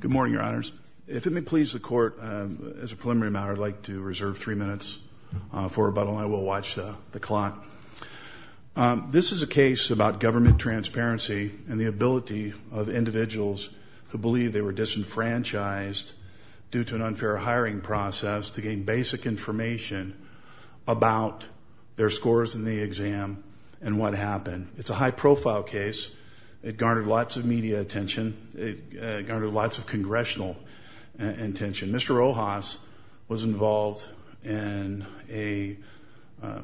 Good morning, your honors. If it may please the court, as a preliminary matter, I'd like to reserve three minutes for rebuttal. I will watch the clock. This is a case about government transparency and the ability of individuals to believe they were disenfranchised due to an unfair hiring process to gain basic information about their scores in the exam and what happened. It's a high profile case. It garnered lots of media attention. It garnered lots of congressional attention. Mr. Rojas was involved in a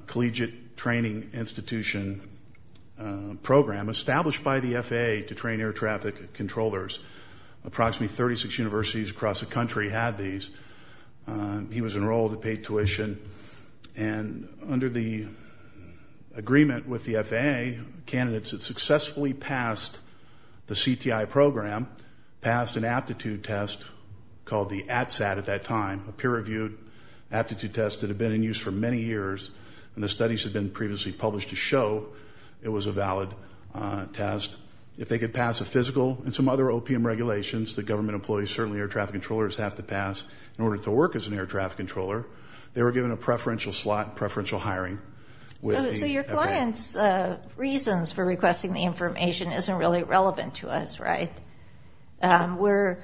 collegiate training institution program established by the FAA to train air traffic controllers. Approximately 36 universities across the country had these. He was enrolled and paid tuition. And under the agreement with the FAA, candidates had successfully passed the CTI program, passed an aptitude test called the ATSAT at that time, a peer reviewed aptitude test that had been in use for many years. And the studies had been previously published to show it was a valid test. If they could pass a physical and some other OPM regulations that government employees, certainly air traffic controllers, have to pass in order to work as an air traffic controller, they were given a preferential slot, preferential hiring. So your client's reasons for requesting the information isn't really relevant to us, right? We're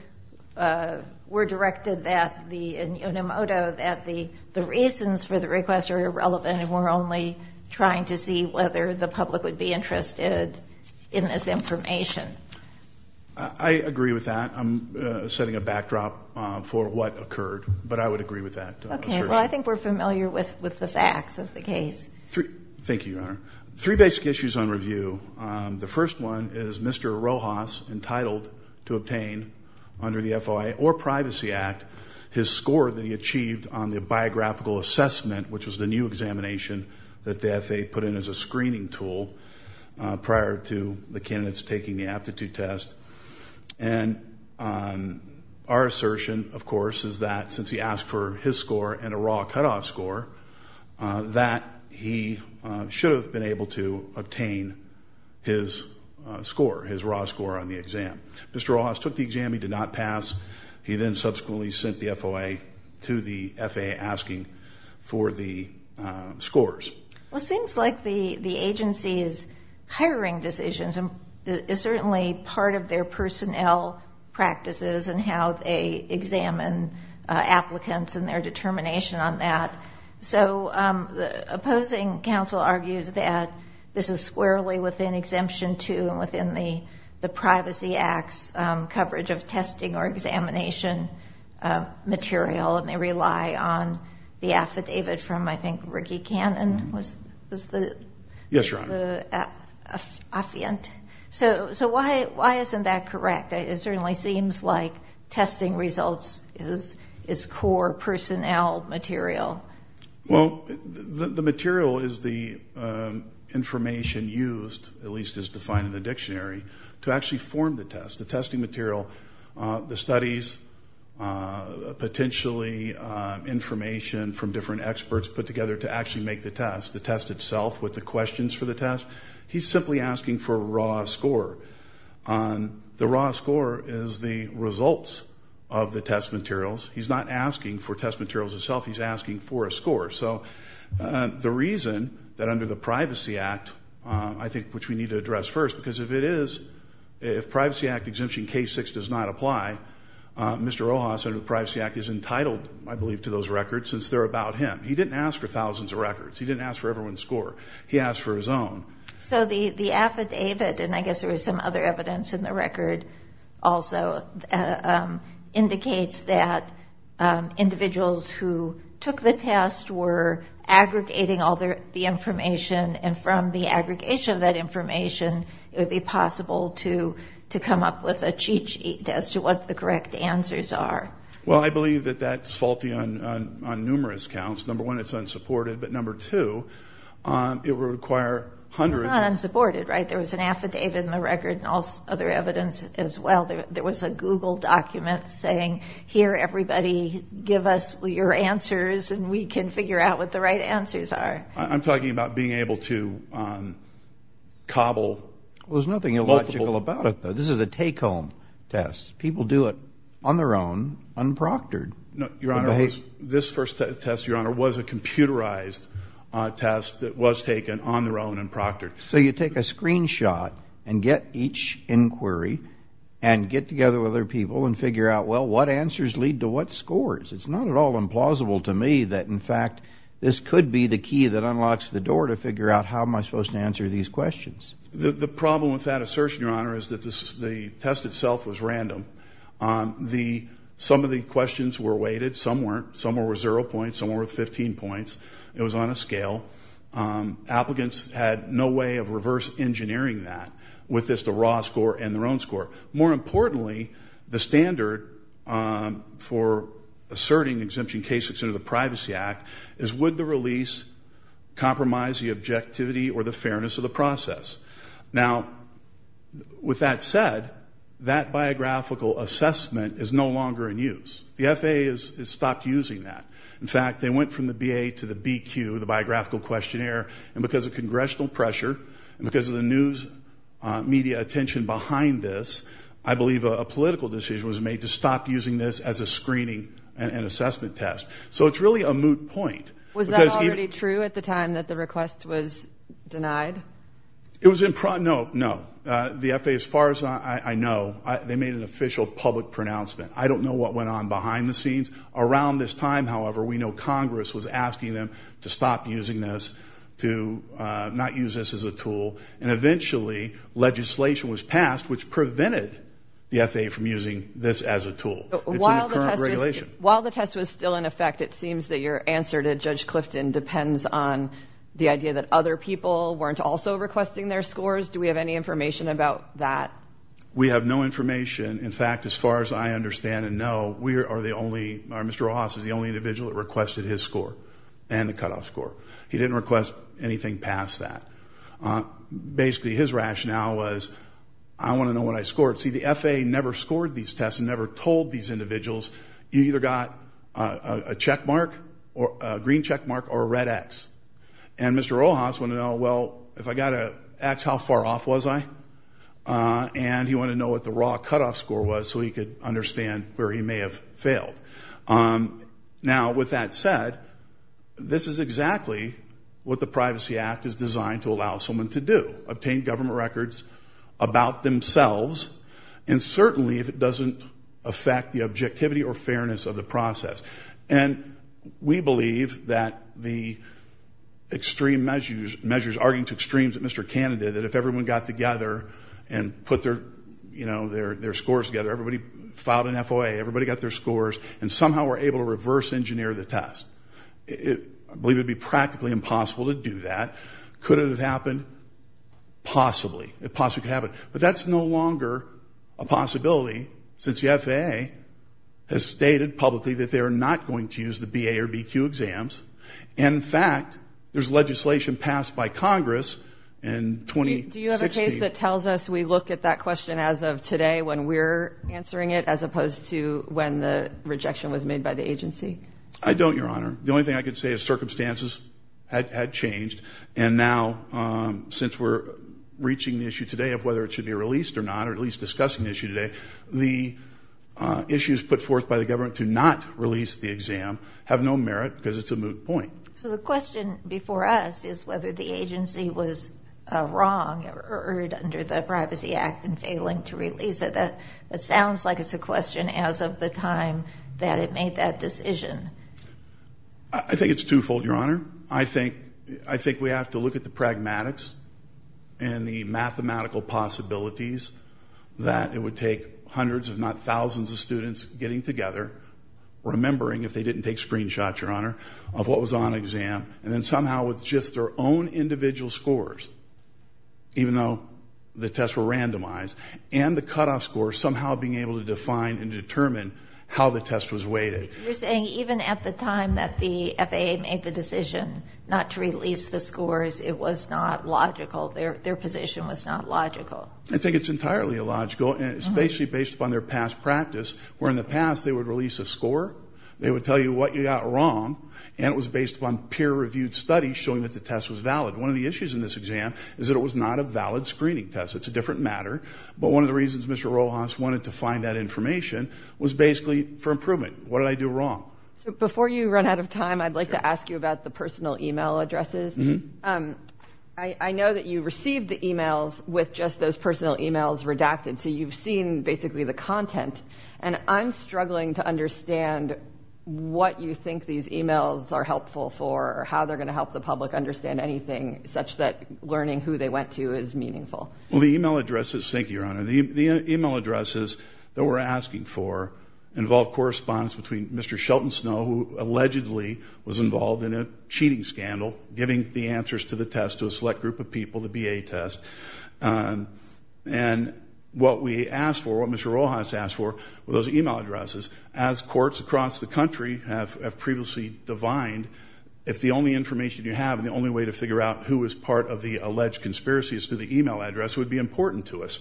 directed that the reasons for the request are irrelevant and we're only trying to see whether the public would be interested in this information. I agree with that. I'm setting a backdrop for what occurred. But I would agree with that assertion. Well, I think we're familiar with the facts of the case. Thank you, Your Honor. Three basic issues on review. The first one is Mr. Rojas entitled to obtain under the FOIA or Privacy Act his score that he achieved on the biographical assessment, which was the new examination that the FAA put in as a screening tool prior to the candidates taking the aptitude test. And our assertion, of course, is that since he asked for his score and a raw cutoff score, that he should have been able to obtain his score, his raw score on the exam. Mr. Rojas took the exam. He did not pass. He then subsequently sent the FOIA to the FAA asking for the scores. Well, it seems like the agency's hiring decisions is certainly part of their personnel practices and how they examine applicants and their determination on that. So the opposing counsel argues that this is squarely within Exemption 2 and within the Privacy Act's coverage of testing or examination material, and they rely on the affidavit from, I think, Ricky Cannon was the... Yes, Your Honor. Affiant. So why isn't that correct? It certainly seems like testing results is core personnel material. Well, the material is the information used, at least as defined in the dictionary, to actually form the test, the testing material, the studies, potentially information from different experts put together to actually make the test, the test itself with the questions for the test. He's simply asking for a raw score. The raw score is the results of the test materials. He's not asking for test materials itself. He's asking for a score. So the reason that under the Privacy Act, I think, which we need to address first, because if it is, if Privacy Act Exemption K-6 does not apply, Mr. Rojas under the Privacy Act is entitled, I believe, to those records since they're about him. He didn't ask for thousands of records. He didn't ask for everyone's score. He asked for his own. So the affidavit, and I guess there was some other evidence in the record also, indicates that individuals who took the test were aggregating all the information, and from the aggregation of that information, it would be possible to come up with a cheat sheet as to what the correct answers are. Well, I believe that that's faulty on numerous counts. Number one, it's unsupported, but number two, it would require hundreds of... It's not unsupported, right? There was an affidavit in the record and other evidence as well. There was a Google document saying, here, everybody, give us your answers and we can figure out what the right answers are. I'm talking about being able to cobble... Well, there's nothing illogical about it, though. This is a take-home test. People do it on their own, unproctored. Your Honor, this first test, Your Honor, was a computerized test that was taken on their own and proctored. So you take a screenshot and get each inquiry and get together with other people and figure out, well, what answers lead to what scores? It's not at all implausible to me that, in fact, this could be the key that unlocks the door to figure out how am I supposed to answer these questions. The problem with that assertion, Your Honor, is that the test itself was random. Some of the questions were weighted. Some weren't. Some were zero points. Some were 15 points. It was on a scale. Applicants had no way of reverse engineering that with just a raw score and their own score. More importantly, the standard for asserting exemption cases under the Privacy Act is would the release compromise the objectivity or the fairness of the process? Now, with that said, that biographical assessment is no longer in use. The FAA has stopped using that. In fact, they went from the BA to the BQ, the biographical questionnaire, and because of congressional pressure and because of the news media attention behind this, I believe a political decision was made to stop using this as a screening and assessment test. So it's really a moot point. Was that already true at the time that the request was denied? It was in – no, no. The FAA, as far as I know, they made an official public pronouncement. I don't know what went on behind the scenes. Around this time, however, we know Congress was asking them to stop using this, to not use this as a tool, and eventually legislation was passed which prevented the FAA from using this as a tool. It's in the current regulation. While the test was still in effect, it seems that your answer to Judge Clifton depends on the idea that other people weren't also requesting their scores. Do we have any information about that? We have no information. In fact, as far as I understand and know, we are the only – Mr. Rojas is the only individual that requested his score and the cutoff score. He didn't request anything past that. Basically, his rationale was, I want to know what I scored. See, the FAA never scored these tests and never told these individuals, you either got a checkmark, a green checkmark, or a red X. And Mr. Rojas wanted to know, well, if I got a X, how far off was I? And he wanted to know what the raw cutoff score was so he could understand where he may have failed. Now, with that said, this is exactly what the Privacy Act is designed to allow someone to do, obtain government records about themselves, and certainly if it doesn't affect the objectivity or fairness of the process. And we believe that the extreme measures, arguing to extremes at Mr. Canada, that if everyone got together and put their scores together, everybody filed an FOA, everybody got their scores, and somehow were able to reverse engineer the test. I believe it would be practically impossible to do that. Could it have happened? Possibly. It possibly could happen. But that's no longer a possibility since the FAA has stated publicly that they are not going to use the BA or BQ exams. In fact, there's legislation passed by Congress in 2016. Do you have a case that tells us we look at that question as of today when we're answering it, as opposed to when the rejection was made by the agency? I don't, Your Honor. The only thing I can say is circumstances had changed, and now since we're reaching the issue today of whether it should be released or not, or at least discussing the issue today, the issues put forth by the government to not release the exam have no merit because it's a moot point. So the question before us is whether the agency was wrong or erred under the Privacy Act in failing to release it. That sounds like it's a question as of the time that it made that decision. I think it's twofold, Your Honor. I think we have to look at the pragmatics and the mathematical possibilities that it would take hundreds if not thousands of students getting together, remembering if they didn't take screenshots, Your Honor, of what was on exam, and then somehow with just their own individual scores, even though the tests were randomized, and the cutoff score somehow being able to define and determine how the test was weighted. You're saying even at the time that the FAA made the decision not to release the scores, it was not logical? Their position was not logical? I think it's entirely illogical, and it's basically based upon their past practice, where in the past they would release a score, they would tell you what you got wrong, and it was based upon peer-reviewed studies showing that the test was valid. One of the issues in this exam is that it was not a valid screening test. It's a different matter, but one of the reasons Mr. Rojas wanted to find that information was basically for improvement. What did I do wrong? Before you run out of time, I'd like to ask you about the personal e-mail addresses. I know that you received the e-mails with just those personal e-mails redacted, so you've seen basically the content, and I'm struggling to understand what you think these e-mails are helpful for or how they're going to help the public understand anything such that learning who they went to is meaningful. Well, the e-mail addresses, thank you, Your Honor, the e-mail addresses that we're asking for involve correspondence between Mr. Shelton Snow, who allegedly was involved in a cheating scandal, giving the answers to the test to a select group of people, the BA test. And what we asked for, what Mr. Rojas asked for, were those e-mail addresses. As courts across the country have previously divined, if the only information you have and the only way to figure out who is part of the alleged conspiracy is through the e-mail address, it would be important to us.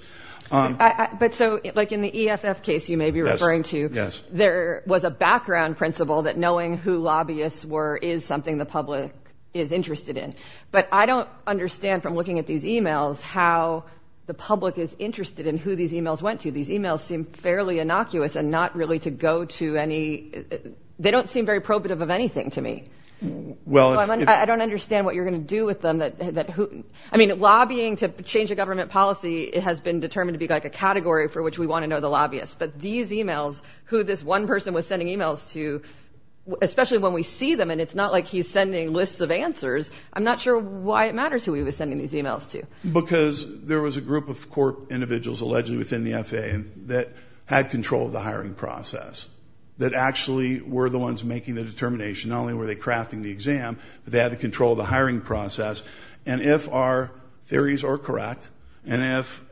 But so, like in the EFF case you may be referring to, there was a background principle that knowing who lobbyists were is something the public is interested in. But I don't understand from looking at these e-mails how the public is interested in who these e-mails went to. These e-mails seem fairly innocuous and not really to go to any – they don't seem very probative of anything to me. I don't understand what you're going to do with them. I mean, lobbying to change a government policy has been determined to be like a category for which we want to know the lobbyists. But these e-mails, who this one person was sending e-mails to, especially when we see them and it's not like he's sending lists of answers, I'm not sure why it matters who he was sending these e-mails to. Because there was a group of court individuals allegedly within the FAA that had control of the hiring process, that actually were the ones making the determination. Not only were they crafting the exam, but they had control of the hiring process. And if our theories are correct and if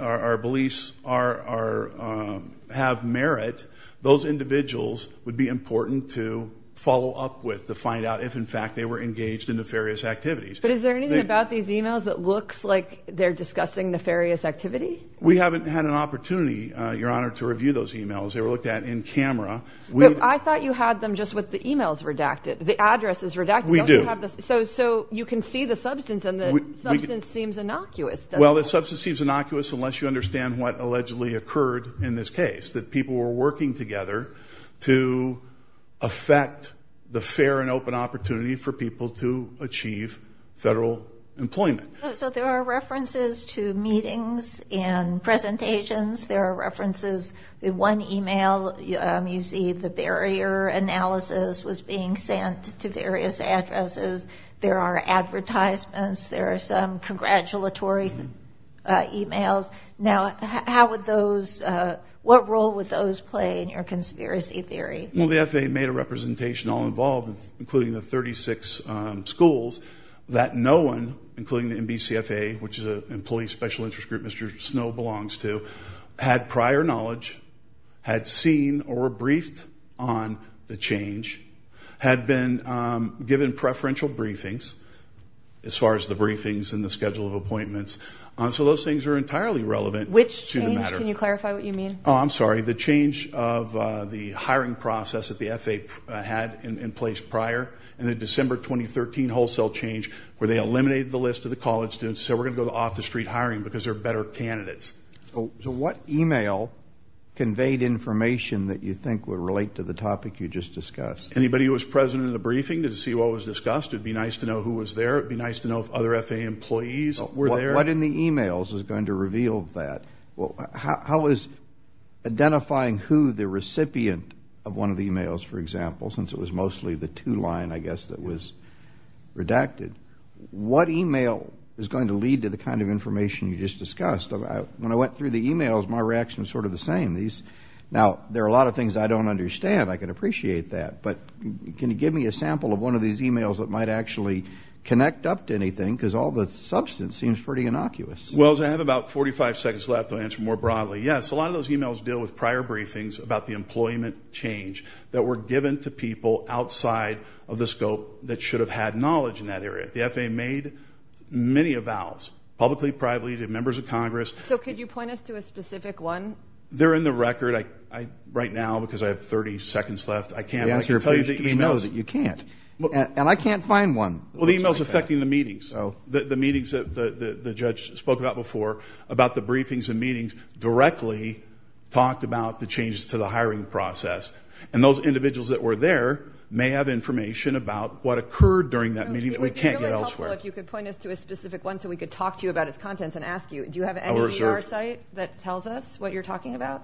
our beliefs have merit, those individuals would be important to follow up with to find out if, in fact, they were engaged in nefarious activities. But is there anything about these e-mails that looks like they're discussing nefarious activity? We haven't had an opportunity, Your Honor, to review those e-mails. They were looked at in camera. I thought you had them just with the e-mails redacted, the addresses redacted. We do. So you can see the substance, and the substance seems innocuous, doesn't it? Well, the substance seems innocuous unless you understand what allegedly occurred in this case, that people were working together to affect the fair and open opportunity for people to achieve federal employment. So there are references to meetings and presentations. There are references to one e-mail. You see the barrier analysis was being sent to various addresses. There are advertisements. There are some congratulatory e-mails. Now, how would those – what role would those play in your conspiracy theory? Well, the FAA made a representation all involved, including the 36 schools, that no one, including the NBCFA, which is an employee special interest group Mr. Snow belongs to, had prior knowledge, had seen or were briefed on the change, had been given preferential briefings as far as the briefings and the schedule of appointments. So those things are entirely relevant to the matter. Which change? Can you clarify what you mean? Oh, I'm sorry. The change of the hiring process that the FAA had in place prior, and the December 2013 wholesale change where they eliminated the list of the college students and said we're going to go to off-the-street hiring because there are better candidates. So what e-mail conveyed information that you think would relate to the topic you just discussed? Anybody who was present in the briefing to see what was discussed. It would be nice to know who was there. It would be nice to know if other FAA employees were there. What in the e-mails is going to reveal that? How is identifying who the recipient of one of the e-mails, for example, since it was mostly the two-line, I guess, that was redacted, what e-mail is going to lead to the kind of information you just discussed? When I went through the e-mails, my reaction was sort of the same. Now, there are a lot of things I don't understand. I can appreciate that. But can you give me a sample of one of these e-mails that might actually connect up to anything because all the substance seems pretty innocuous. Well, as I have about 45 seconds left, I'll answer more broadly. Yes, a lot of those e-mails deal with prior briefings about the employment change that were given to people outside of the scope that should have had knowledge in that area. The FAA made many avowals, publicly, privately, to members of Congress. So could you point us to a specific one? They're in the record right now because I have 30 seconds left. I can't tell you the e-mails. The answer appears to be no, that you can't. And I can't find one. Well, the e-mail is affecting the meetings. The meetings that the judge spoke about before, about the briefings and meetings, directly talked about the changes to the hiring process. And those individuals that were there may have information about what occurred during that meeting. We can't get elsewhere. It would be really helpful if you could point us to a specific one so we could talk to you about its contents and ask you, do you have any ER site that tells us what you're talking about?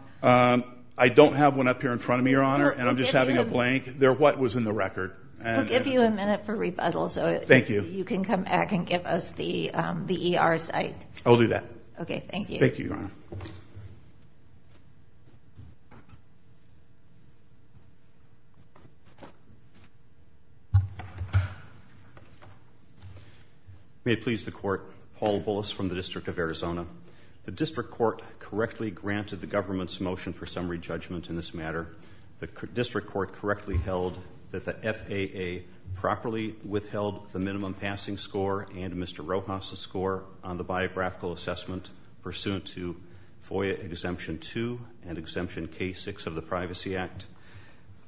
I don't have one up here in front of me, Your Honor, and I'm just having a blank. They're what was in the record. We'll give you a minute for rebuttal. Thank you. You can come back and give us the ER site. I'll do that. Okay, thank you. Thank you, Your Honor. May it please the Court, Paul Bullis from the District of Arizona. The District Court correctly granted the government's motion for summary judgment in this matter. The District Court correctly held that the FAA properly withheld the minimum passing score and Mr. Rojas' score on the biographical assessment pursuant to FOIA Exemption 2 and Exemption K-6 of the Privacy Act.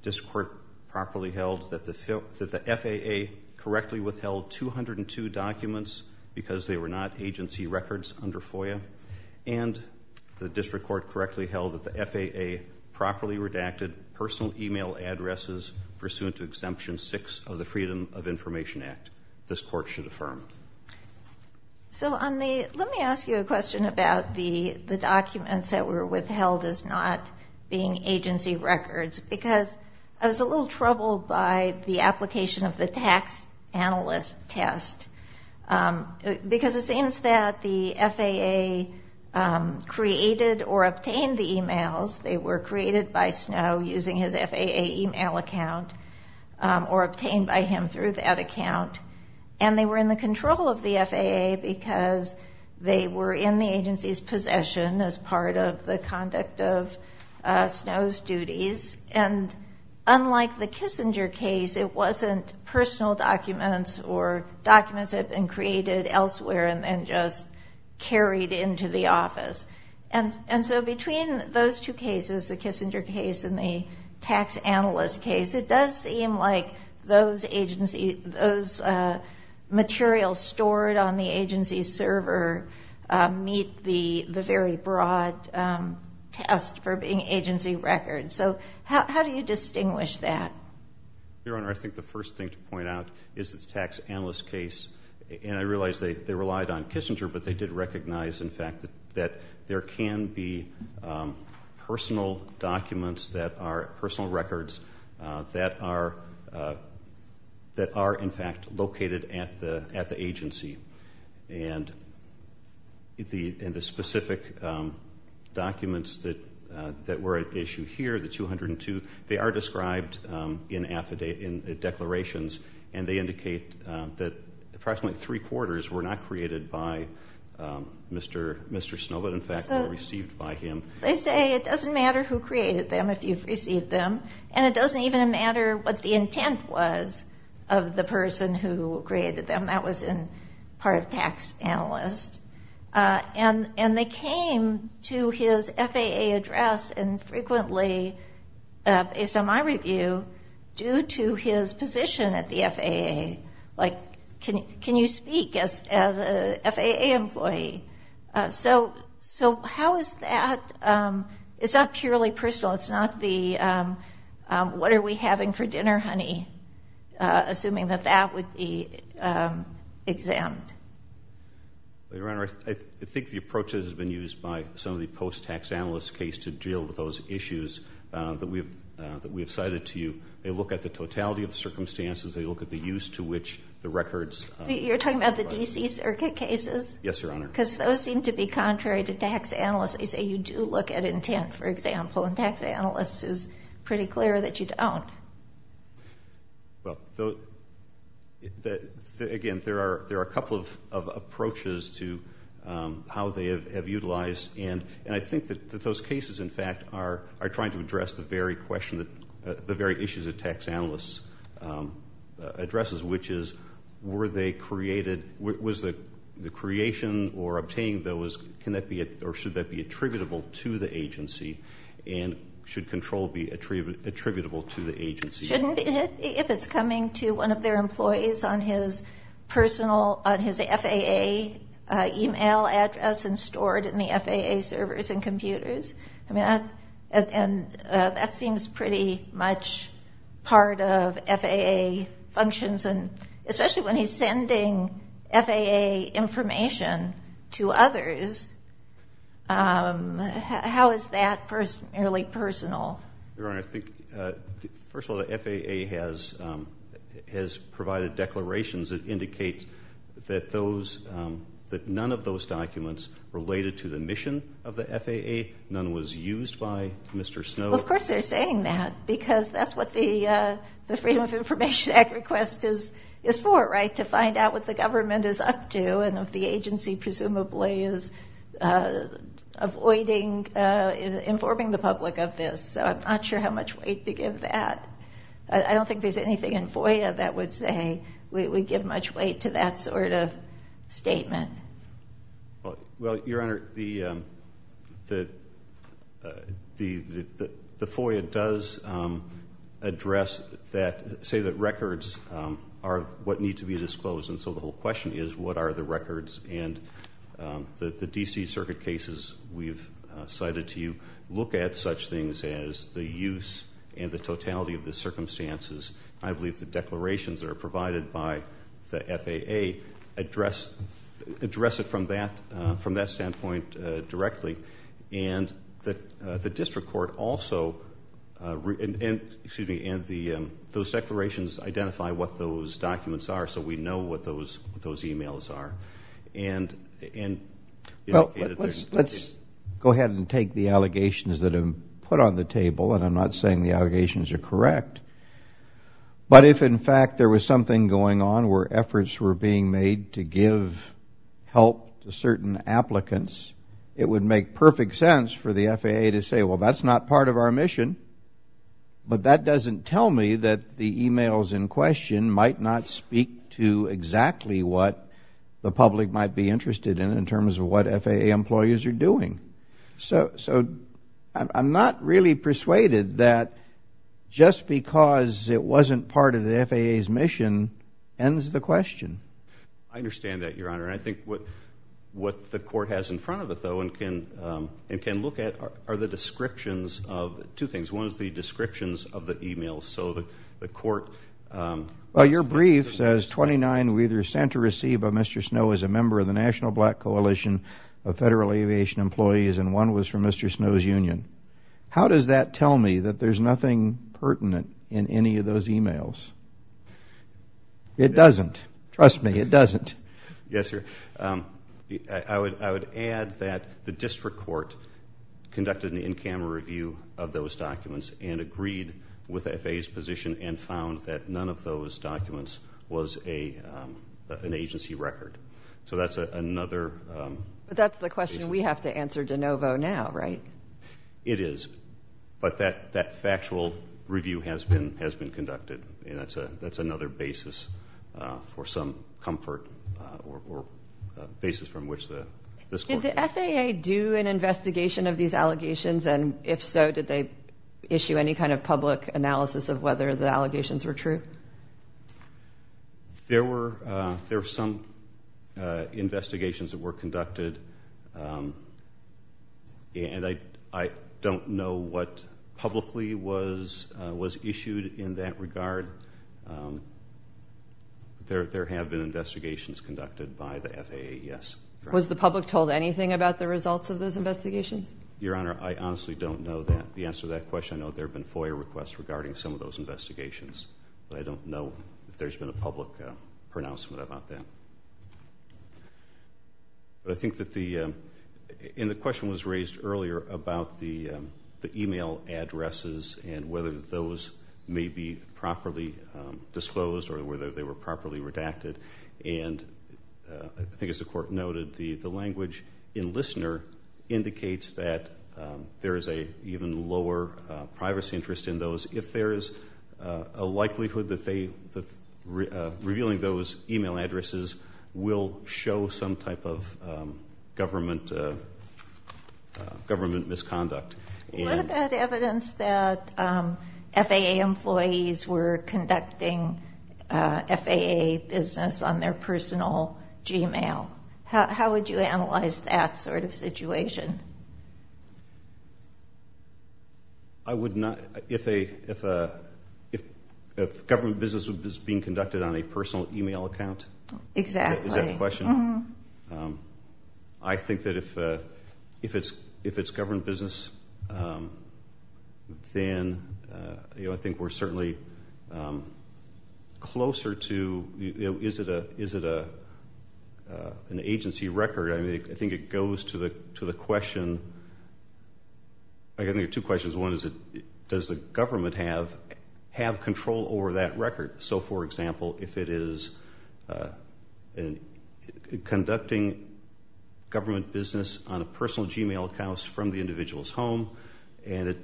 The District Court properly held that the FAA correctly withheld 202 documents because they were not agency records under FOIA. And the District Court correctly held that the FAA properly redacted personal e-mail addresses pursuant to Exemption 6 of the Freedom of Information Act. This Court should affirm. So let me ask you a question about the documents that were withheld as not being agency records because I was a little troubled by the application of the tax analyst test because it seems that the FAA created or obtained the e-mails. They were created by Snow using his FAA e-mail account or obtained by him through that account. And they were in the control of the FAA because they were in the agency's possession as part of the conduct of Snow's duties. And unlike the Kissinger case, it wasn't personal documents or documents that had been created elsewhere and then just carried into the office. And so between those two cases, the Kissinger case and the tax analyst case, it does seem like those materials stored on the agency's server meet the very broad test for being agency records. So how do you distinguish that? Your Honor, I think the first thing to point out is the tax analyst case. And I realize they relied on Kissinger, but they did recognize, in fact, that there can be personal documents that are personal records that are, in fact, located at the agency. And the specific documents that were at issue here, the 202, they are described in declarations, and they indicate that approximately three-quarters were not created by Mr. Snow, but, in fact, were received by him. They say it doesn't matter who created them if you've received them, and it doesn't even matter what the intent was of the person who created them. That was part of tax analyst. And they came to his FAA address and frequently, based on my review, due to his position at the FAA. Like, can you speak as an FAA employee? So how is that? It's not purely personal. It's not the what are we having for dinner, honey, assuming that that would be exempt. Your Honor, I think the approach has been used by some of the post-tax analyst case to deal with those issues that we have cited to you. They look at the totality of the circumstances. They look at the use to which the records. You're talking about the D.C. circuit cases? Yes, Your Honor. Because those seem to be contrary to tax analyst. They say you do look at intent, for example, and tax analyst is pretty clear that you don't. Well, again, there are a couple of approaches to how they have utilized. And I think that those cases, in fact, are trying to address the very question that the very issues that tax analyst addresses, which is were they created, was the creation or obtaining those, can that be, or should that be attributable to the agency? And should control be attributable to the agency? Shouldn't it if it's coming to one of their employees on his personal, on his FAA email address and stored in the FAA servers and computers? And that seems pretty much part of FAA functions, and especially when he's sending FAA information to others, how is that nearly personal? Your Honor, I think, first of all, the FAA has provided declarations that indicate that none of those documents related to the mission of the FAA. None was used by Mr. Snow. Well, of course they're saying that because that's what the Freedom of Information Act request is for, right, to find out what the government is up to and if the agency presumably is avoiding informing the public of this. So I'm not sure how much weight to give that. I don't think there's anything in FOIA that would say we give much weight to that sort of statement. Well, Your Honor, the FOIA does address that, say that records are what need to be disclosed, and so the whole question is what are the records, and the D.C. Circuit cases we've cited to you look at such things as the use and the totality of the circumstances. I believe the declarations that are provided by the FAA address it from that standpoint directly, and the district court also, and those declarations identify what those documents are, so we know what those e-mails are. Well, let's go ahead and take the allegations that have been put on the table, and I'm not saying the allegations are correct, but if, in fact, there was something going on where efforts were being made to give help to certain applicants, it would make perfect sense for the FAA to say, well, that's not part of our mission, but that doesn't tell me that the e-mails in question might not speak to exactly what the public might be interested in in terms of what FAA employees are doing. So I'm not really persuaded that just because it wasn't part of the FAA's mission ends the question. I understand that, Your Honor, and I think what the court has in front of it, though, and can look at are the descriptions of two things. One is the descriptions of the e-mails. So the court... Well, your brief says 29 were either sent or received by Mr. Snow as a member of the National Black Coalition of Federal Aviation Employees, and one was from Mr. Snow's union. How does that tell me that there's nothing pertinent in any of those e-mails? It doesn't. Trust me, it doesn't. Yes, sir. I would add that the district court conducted an in-camera review of those documents and agreed with FAA's position and found that none of those documents was an agency record. So that's another... But that's the question we have to answer de novo now, right? It is. But that factual review has been conducted, and that's another basis for some comfort or basis from which this court... Did the FAA do an investigation of these allegations? And if so, did they issue any kind of public analysis of whether the allegations were true? There were some investigations that were conducted, and I don't know what publicly was issued in that regard. There have been investigations conducted by the FAA, yes. Was the public told anything about the results of those investigations? Your Honor, I honestly don't know the answer to that question. I know there have been FOIA requests regarding some of those investigations, but I don't know if there's been a public pronouncement about that. But I think that the... And the question was raised earlier about the e-mail addresses and whether those may be properly disclosed or whether they were properly redacted. And I think, as the Court noted, the language in Listener indicates that there is an even lower privacy interest in those. If there is a likelihood that revealing those e-mail addresses will show some type of government misconduct. What about evidence that FAA employees were conducting FAA business on their personal g-mail? How would you analyze that sort of situation? I would not... If government business is being conducted on a personal e-mail account? Exactly. Is that the question? Mm-hmm. I think that if it's government business, then I think we're certainly closer to, is it an agency record? I think it goes to the question... I think there are two questions. One is, does the government have control over that record? So, for example, if it is conducting government business on a personal g-mail account from the individual's home and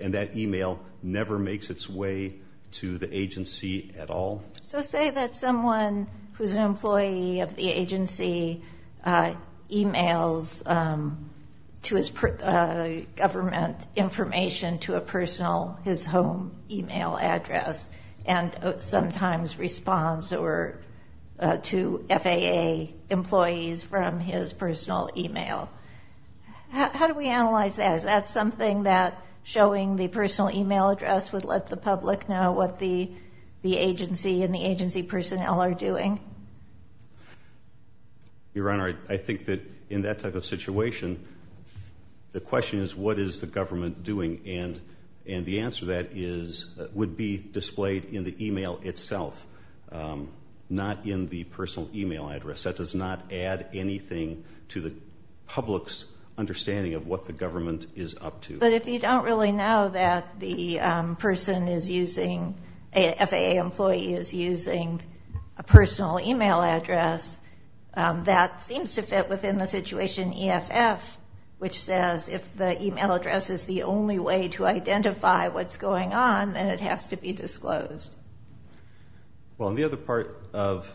that e-mail never makes its way to the agency at all? So say that someone who's an employee of the agency e-mails to his government information to a personal, his home e-mail address and sometimes responds to FAA employees from his personal e-mail. How do we analyze that? Is that something that showing the personal e-mail address would let the public know what the agency and the agency personnel are doing? Your Honor, I think that in that type of situation, the question is, what is the government doing? And the answer to that would be displayed in the e-mail itself, not in the personal e-mail address. That does not add anything to the public's understanding of what the government is up to. But if you don't really know that the person is using, a FAA employee is using a personal e-mail address, that seems to fit within the situation EFF, which says if the e-mail address is the only way to identify what's going on, then it has to be disclosed. Well, the other part of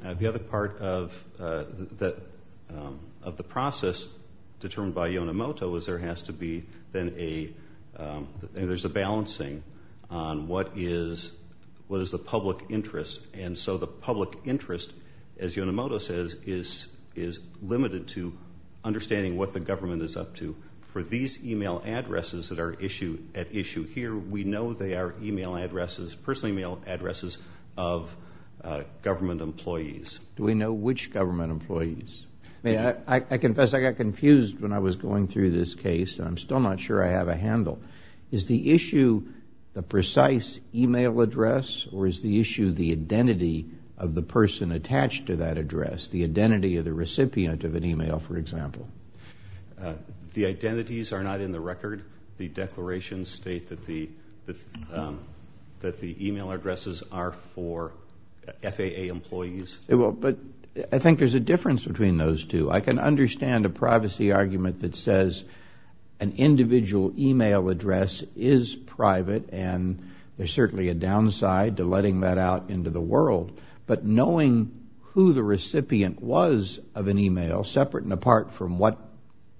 the process determined by Yonemoto is there has to be then a, there's a balancing on what is the public interest. And so the public interest, as Yonemoto says, is limited to understanding what the government is up to. For these e-mail addresses that are at issue here, we know they are e-mail addresses, personal e-mail addresses of government employees. Do we know which government employees? I confess I got confused when I was going through this case, and I'm still not sure I have a handle. Is the issue the precise e-mail address, or is the issue the identity of the person attached to that address, the identity of the recipient of an e-mail, for example? The identities are not in the record. The declarations state that the e-mail addresses are for FAA employees. But I think there's a difference between those two. I can understand a privacy argument that says an individual e-mail address is private, and there's certainly a downside to letting that out into the world. But knowing who the recipient was of an e-mail, separate and apart from what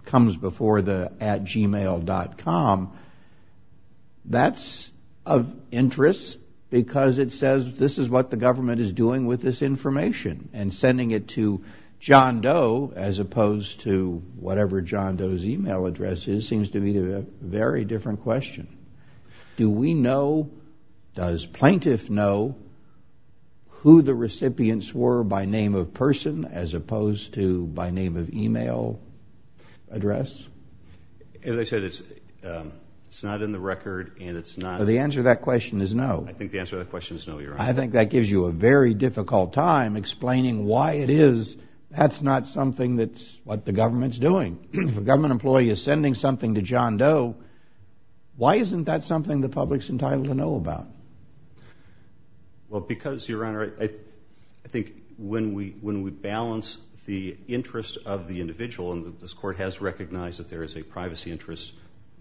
comes before the at gmail.com, that's of interest because it says this is what the government is doing with this information. And sending it to John Doe as opposed to whatever John Doe's e-mail address is seems to be a very different question. Do we know, does plaintiff know, who the recipients were by name of person as opposed to by name of e-mail address? As I said, it's not in the record, and it's not. Well, the answer to that question is no. I think the answer to that question is no, Your Honor. I think that gives you a very difficult time explaining why it is that's not something that's what the government's doing. If a government employee is sending something to John Doe, why isn't that something the public's entitled to know about? Well, because, Your Honor, I think when we balance the interest of the individual, and this Court has recognized that there is a privacy interest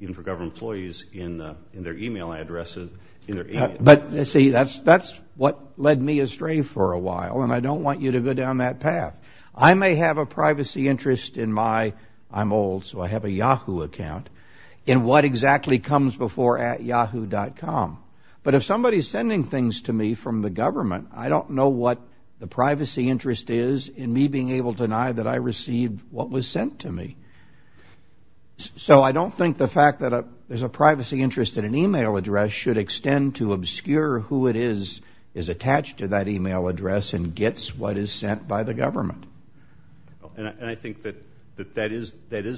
even for government employees in their e-mail addresses. But, see, that's what led me astray for a while, and I don't want you to go down that path. I may have a privacy interest in my, I'm old so I have a Yahoo account, in what exactly comes before at yahoo.com. But if somebody's sending things to me from the government, I don't know what the privacy interest is in me being able to deny that I received what was sent to me. So I don't think the fact that there's a privacy interest in an e-mail address should extend to obscure who it is that is attached to that e-mail address and gets what is sent by the government. And I think that that is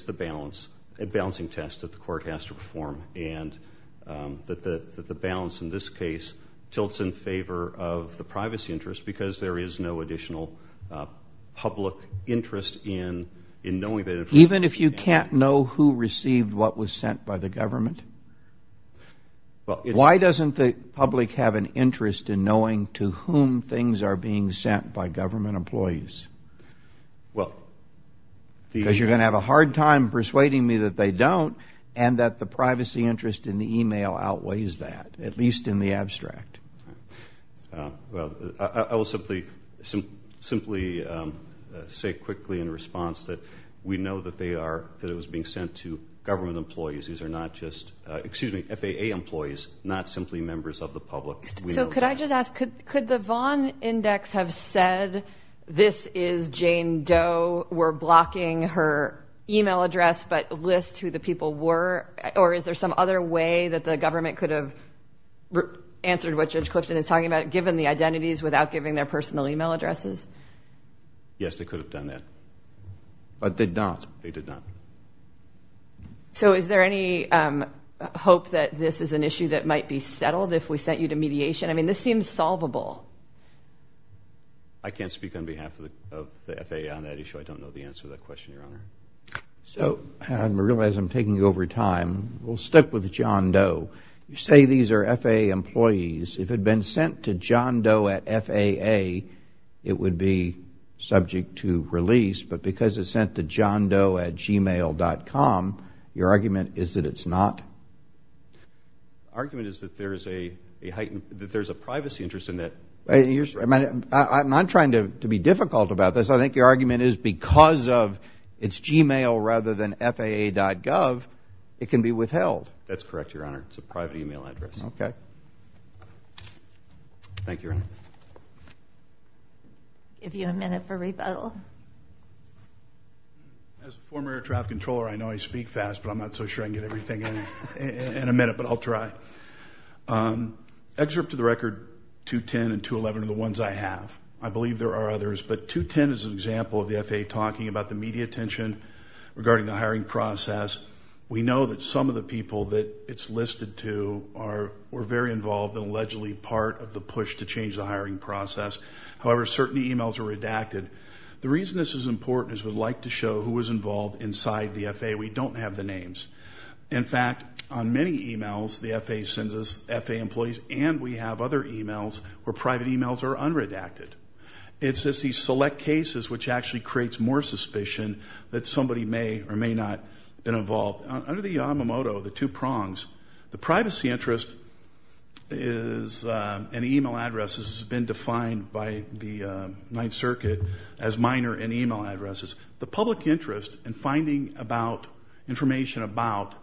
the balance, a balancing test that the Court has to perform, and that the balance in this case tilts in favor of the privacy interest because there is no additional public interest in knowing that it was sent. Even if you can't know who received what was sent by the government? Why doesn't the public have an interest in knowing to whom things are being sent by government employees? Because you're going to have a hard time persuading me that they don't and that the privacy interest in the e-mail outweighs that, at least in the abstract. Well, I will simply say quickly in response that we know that it was being sent to government employees. These are not just, excuse me, FAA employees, not simply members of the public. So could I just ask, could the Vaughn Index have said, this is Jane Doe, we're blocking her e-mail address but list who the people were? Or is there some other way that the government could have answered what Judge Clifton is talking about, given the identities without giving their personal e-mail addresses? Yes, they could have done that. But they did not. They did not. So is there any hope that this is an issue that might be settled if we sent you to mediation? I mean, this seems solvable. I can't speak on behalf of the FAA on that issue. I don't know the answer to that question, Your Honor. So I realize I'm taking over time. We'll stick with John Doe. You say these are FAA employees. If it had been sent to John Doe at FAA, it would be subject to release. But because it's sent to JohnDoe at gmail.com, your argument is that it's not? The argument is that there's a privacy interest in that. I'm not trying to be difficult about this. I think your argument is because of it's gmail rather than FAA.gov, it can be withheld. That's correct, Your Honor. It's a private e-mail address. Okay. Thank you, Your Honor. I'll give you a minute for rebuttal. As a former air traffic controller, I know I speak fast, but I'm not so sure I can get everything in in a minute, but I'll try. Excerpt to the record, 210 and 211 are the ones I have. I believe there are others. But 210 is an example of the FAA talking about the media attention regarding the hiring process. We know that some of the people that it's listed to were very involved and allegedly part of the push to change the hiring process. However, certain e-mails are redacted. The reason this is important is we'd like to show who was involved inside the FAA. We don't have the names. In fact, on many e-mails, the FAA sends us FAA employees, and we have other e-mails where private e-mails are unredacted. It's just these select cases which actually creates more suspicion that somebody may or may not have been involved. Under the Yamamoto, the two prongs, the privacy interest in e-mail addresses has been defined by the Ninth Circuit as minor in e-mail addresses. The public interest in finding information about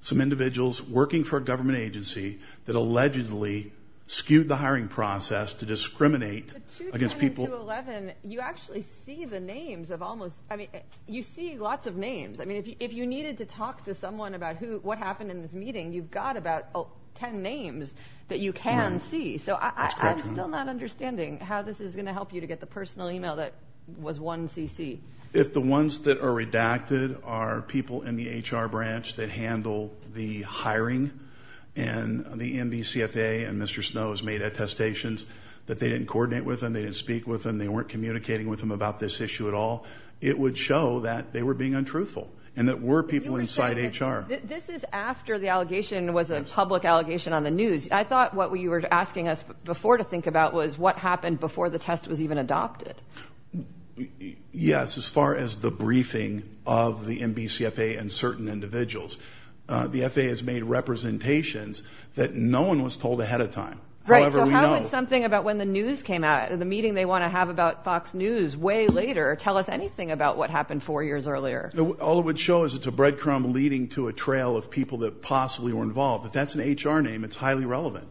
some individuals working for a government agency that allegedly skewed the hiring process to discriminate against people. But 210 and 211, you actually see the names of almost, I mean, you see lots of names. I mean, if you needed to talk to someone about what happened in this meeting, you've got about 10 names that you can see. So I'm still not understanding how this is going to help you to get the personal e-mail that was 1cc. If the ones that are redacted are people in the HR branch that handle the hiring and the NBCFA and Mr. Snow's made attestations that they didn't coordinate with them, they didn't speak with them, they weren't communicating with them about this issue at all, it would show that they were being untruthful and that were people inside HR. This is after the allegation was a public allegation on the news. I thought what you were asking us before to think about was what happened before the test was even adopted. Yes, as far as the briefing of the NBCFA and certain individuals. The FAA has made representations that no one was told ahead of time. Right, so how would something about when the news came out, the meeting they want to have about Fox News way later tell us anything about what happened four years earlier? All it would show is it's a breadcrumb leading to a trail of people that possibly were involved. If that's an HR name, it's highly relevant.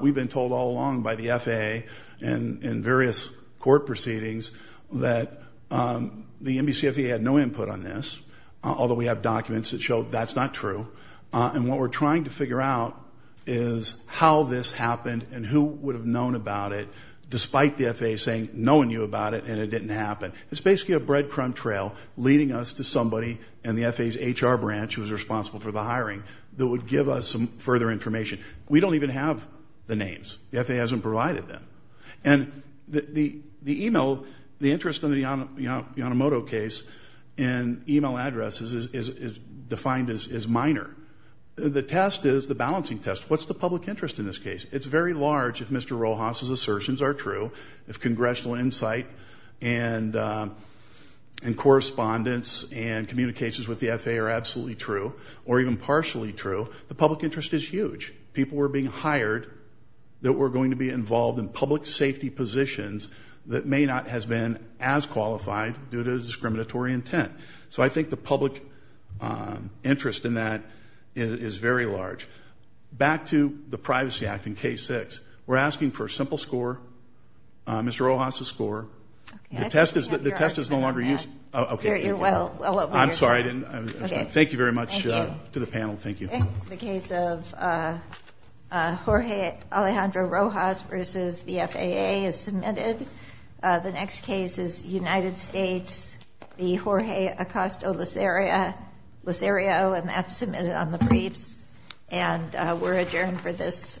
We've been told all along by the FAA and various court proceedings that the NBCFA had no input on this, although we have documents that show that's not true. And what we're trying to figure out is how this happened and who would have known about it despite the FAA saying no one knew about it and it didn't happen. It's basically a breadcrumb trail leading us to somebody in the FAA's HR branch who's responsible for the hiring that would give us some further information. We don't even have the names. The FAA hasn't provided them. And the email, the interest in the Yanomoto case and email addresses is defined as minor. The test is the balancing test. What's the public interest in this case? It's very large if Mr. Rojas' assertions are true, if congressional insight and correspondence and communications with the FAA are absolutely true or even partially true. The public interest is huge. People were being hired that were going to be involved in public safety positions that may not have been as qualified due to discriminatory intent. So I think the public interest in that is very large. Back to the Privacy Act in Case 6. We're asking for a simple score, Mr. Rojas' score. The test is no longer used. I'm sorry, I didn't understand. Thank you very much to the panel. Thank you. The case of Jorge Alejandro Rojas versus the FAA is submitted. The next case is United States v. Jorge Acosta-Lacerio, and that's submitted on the briefs. And we're adjourned for this session.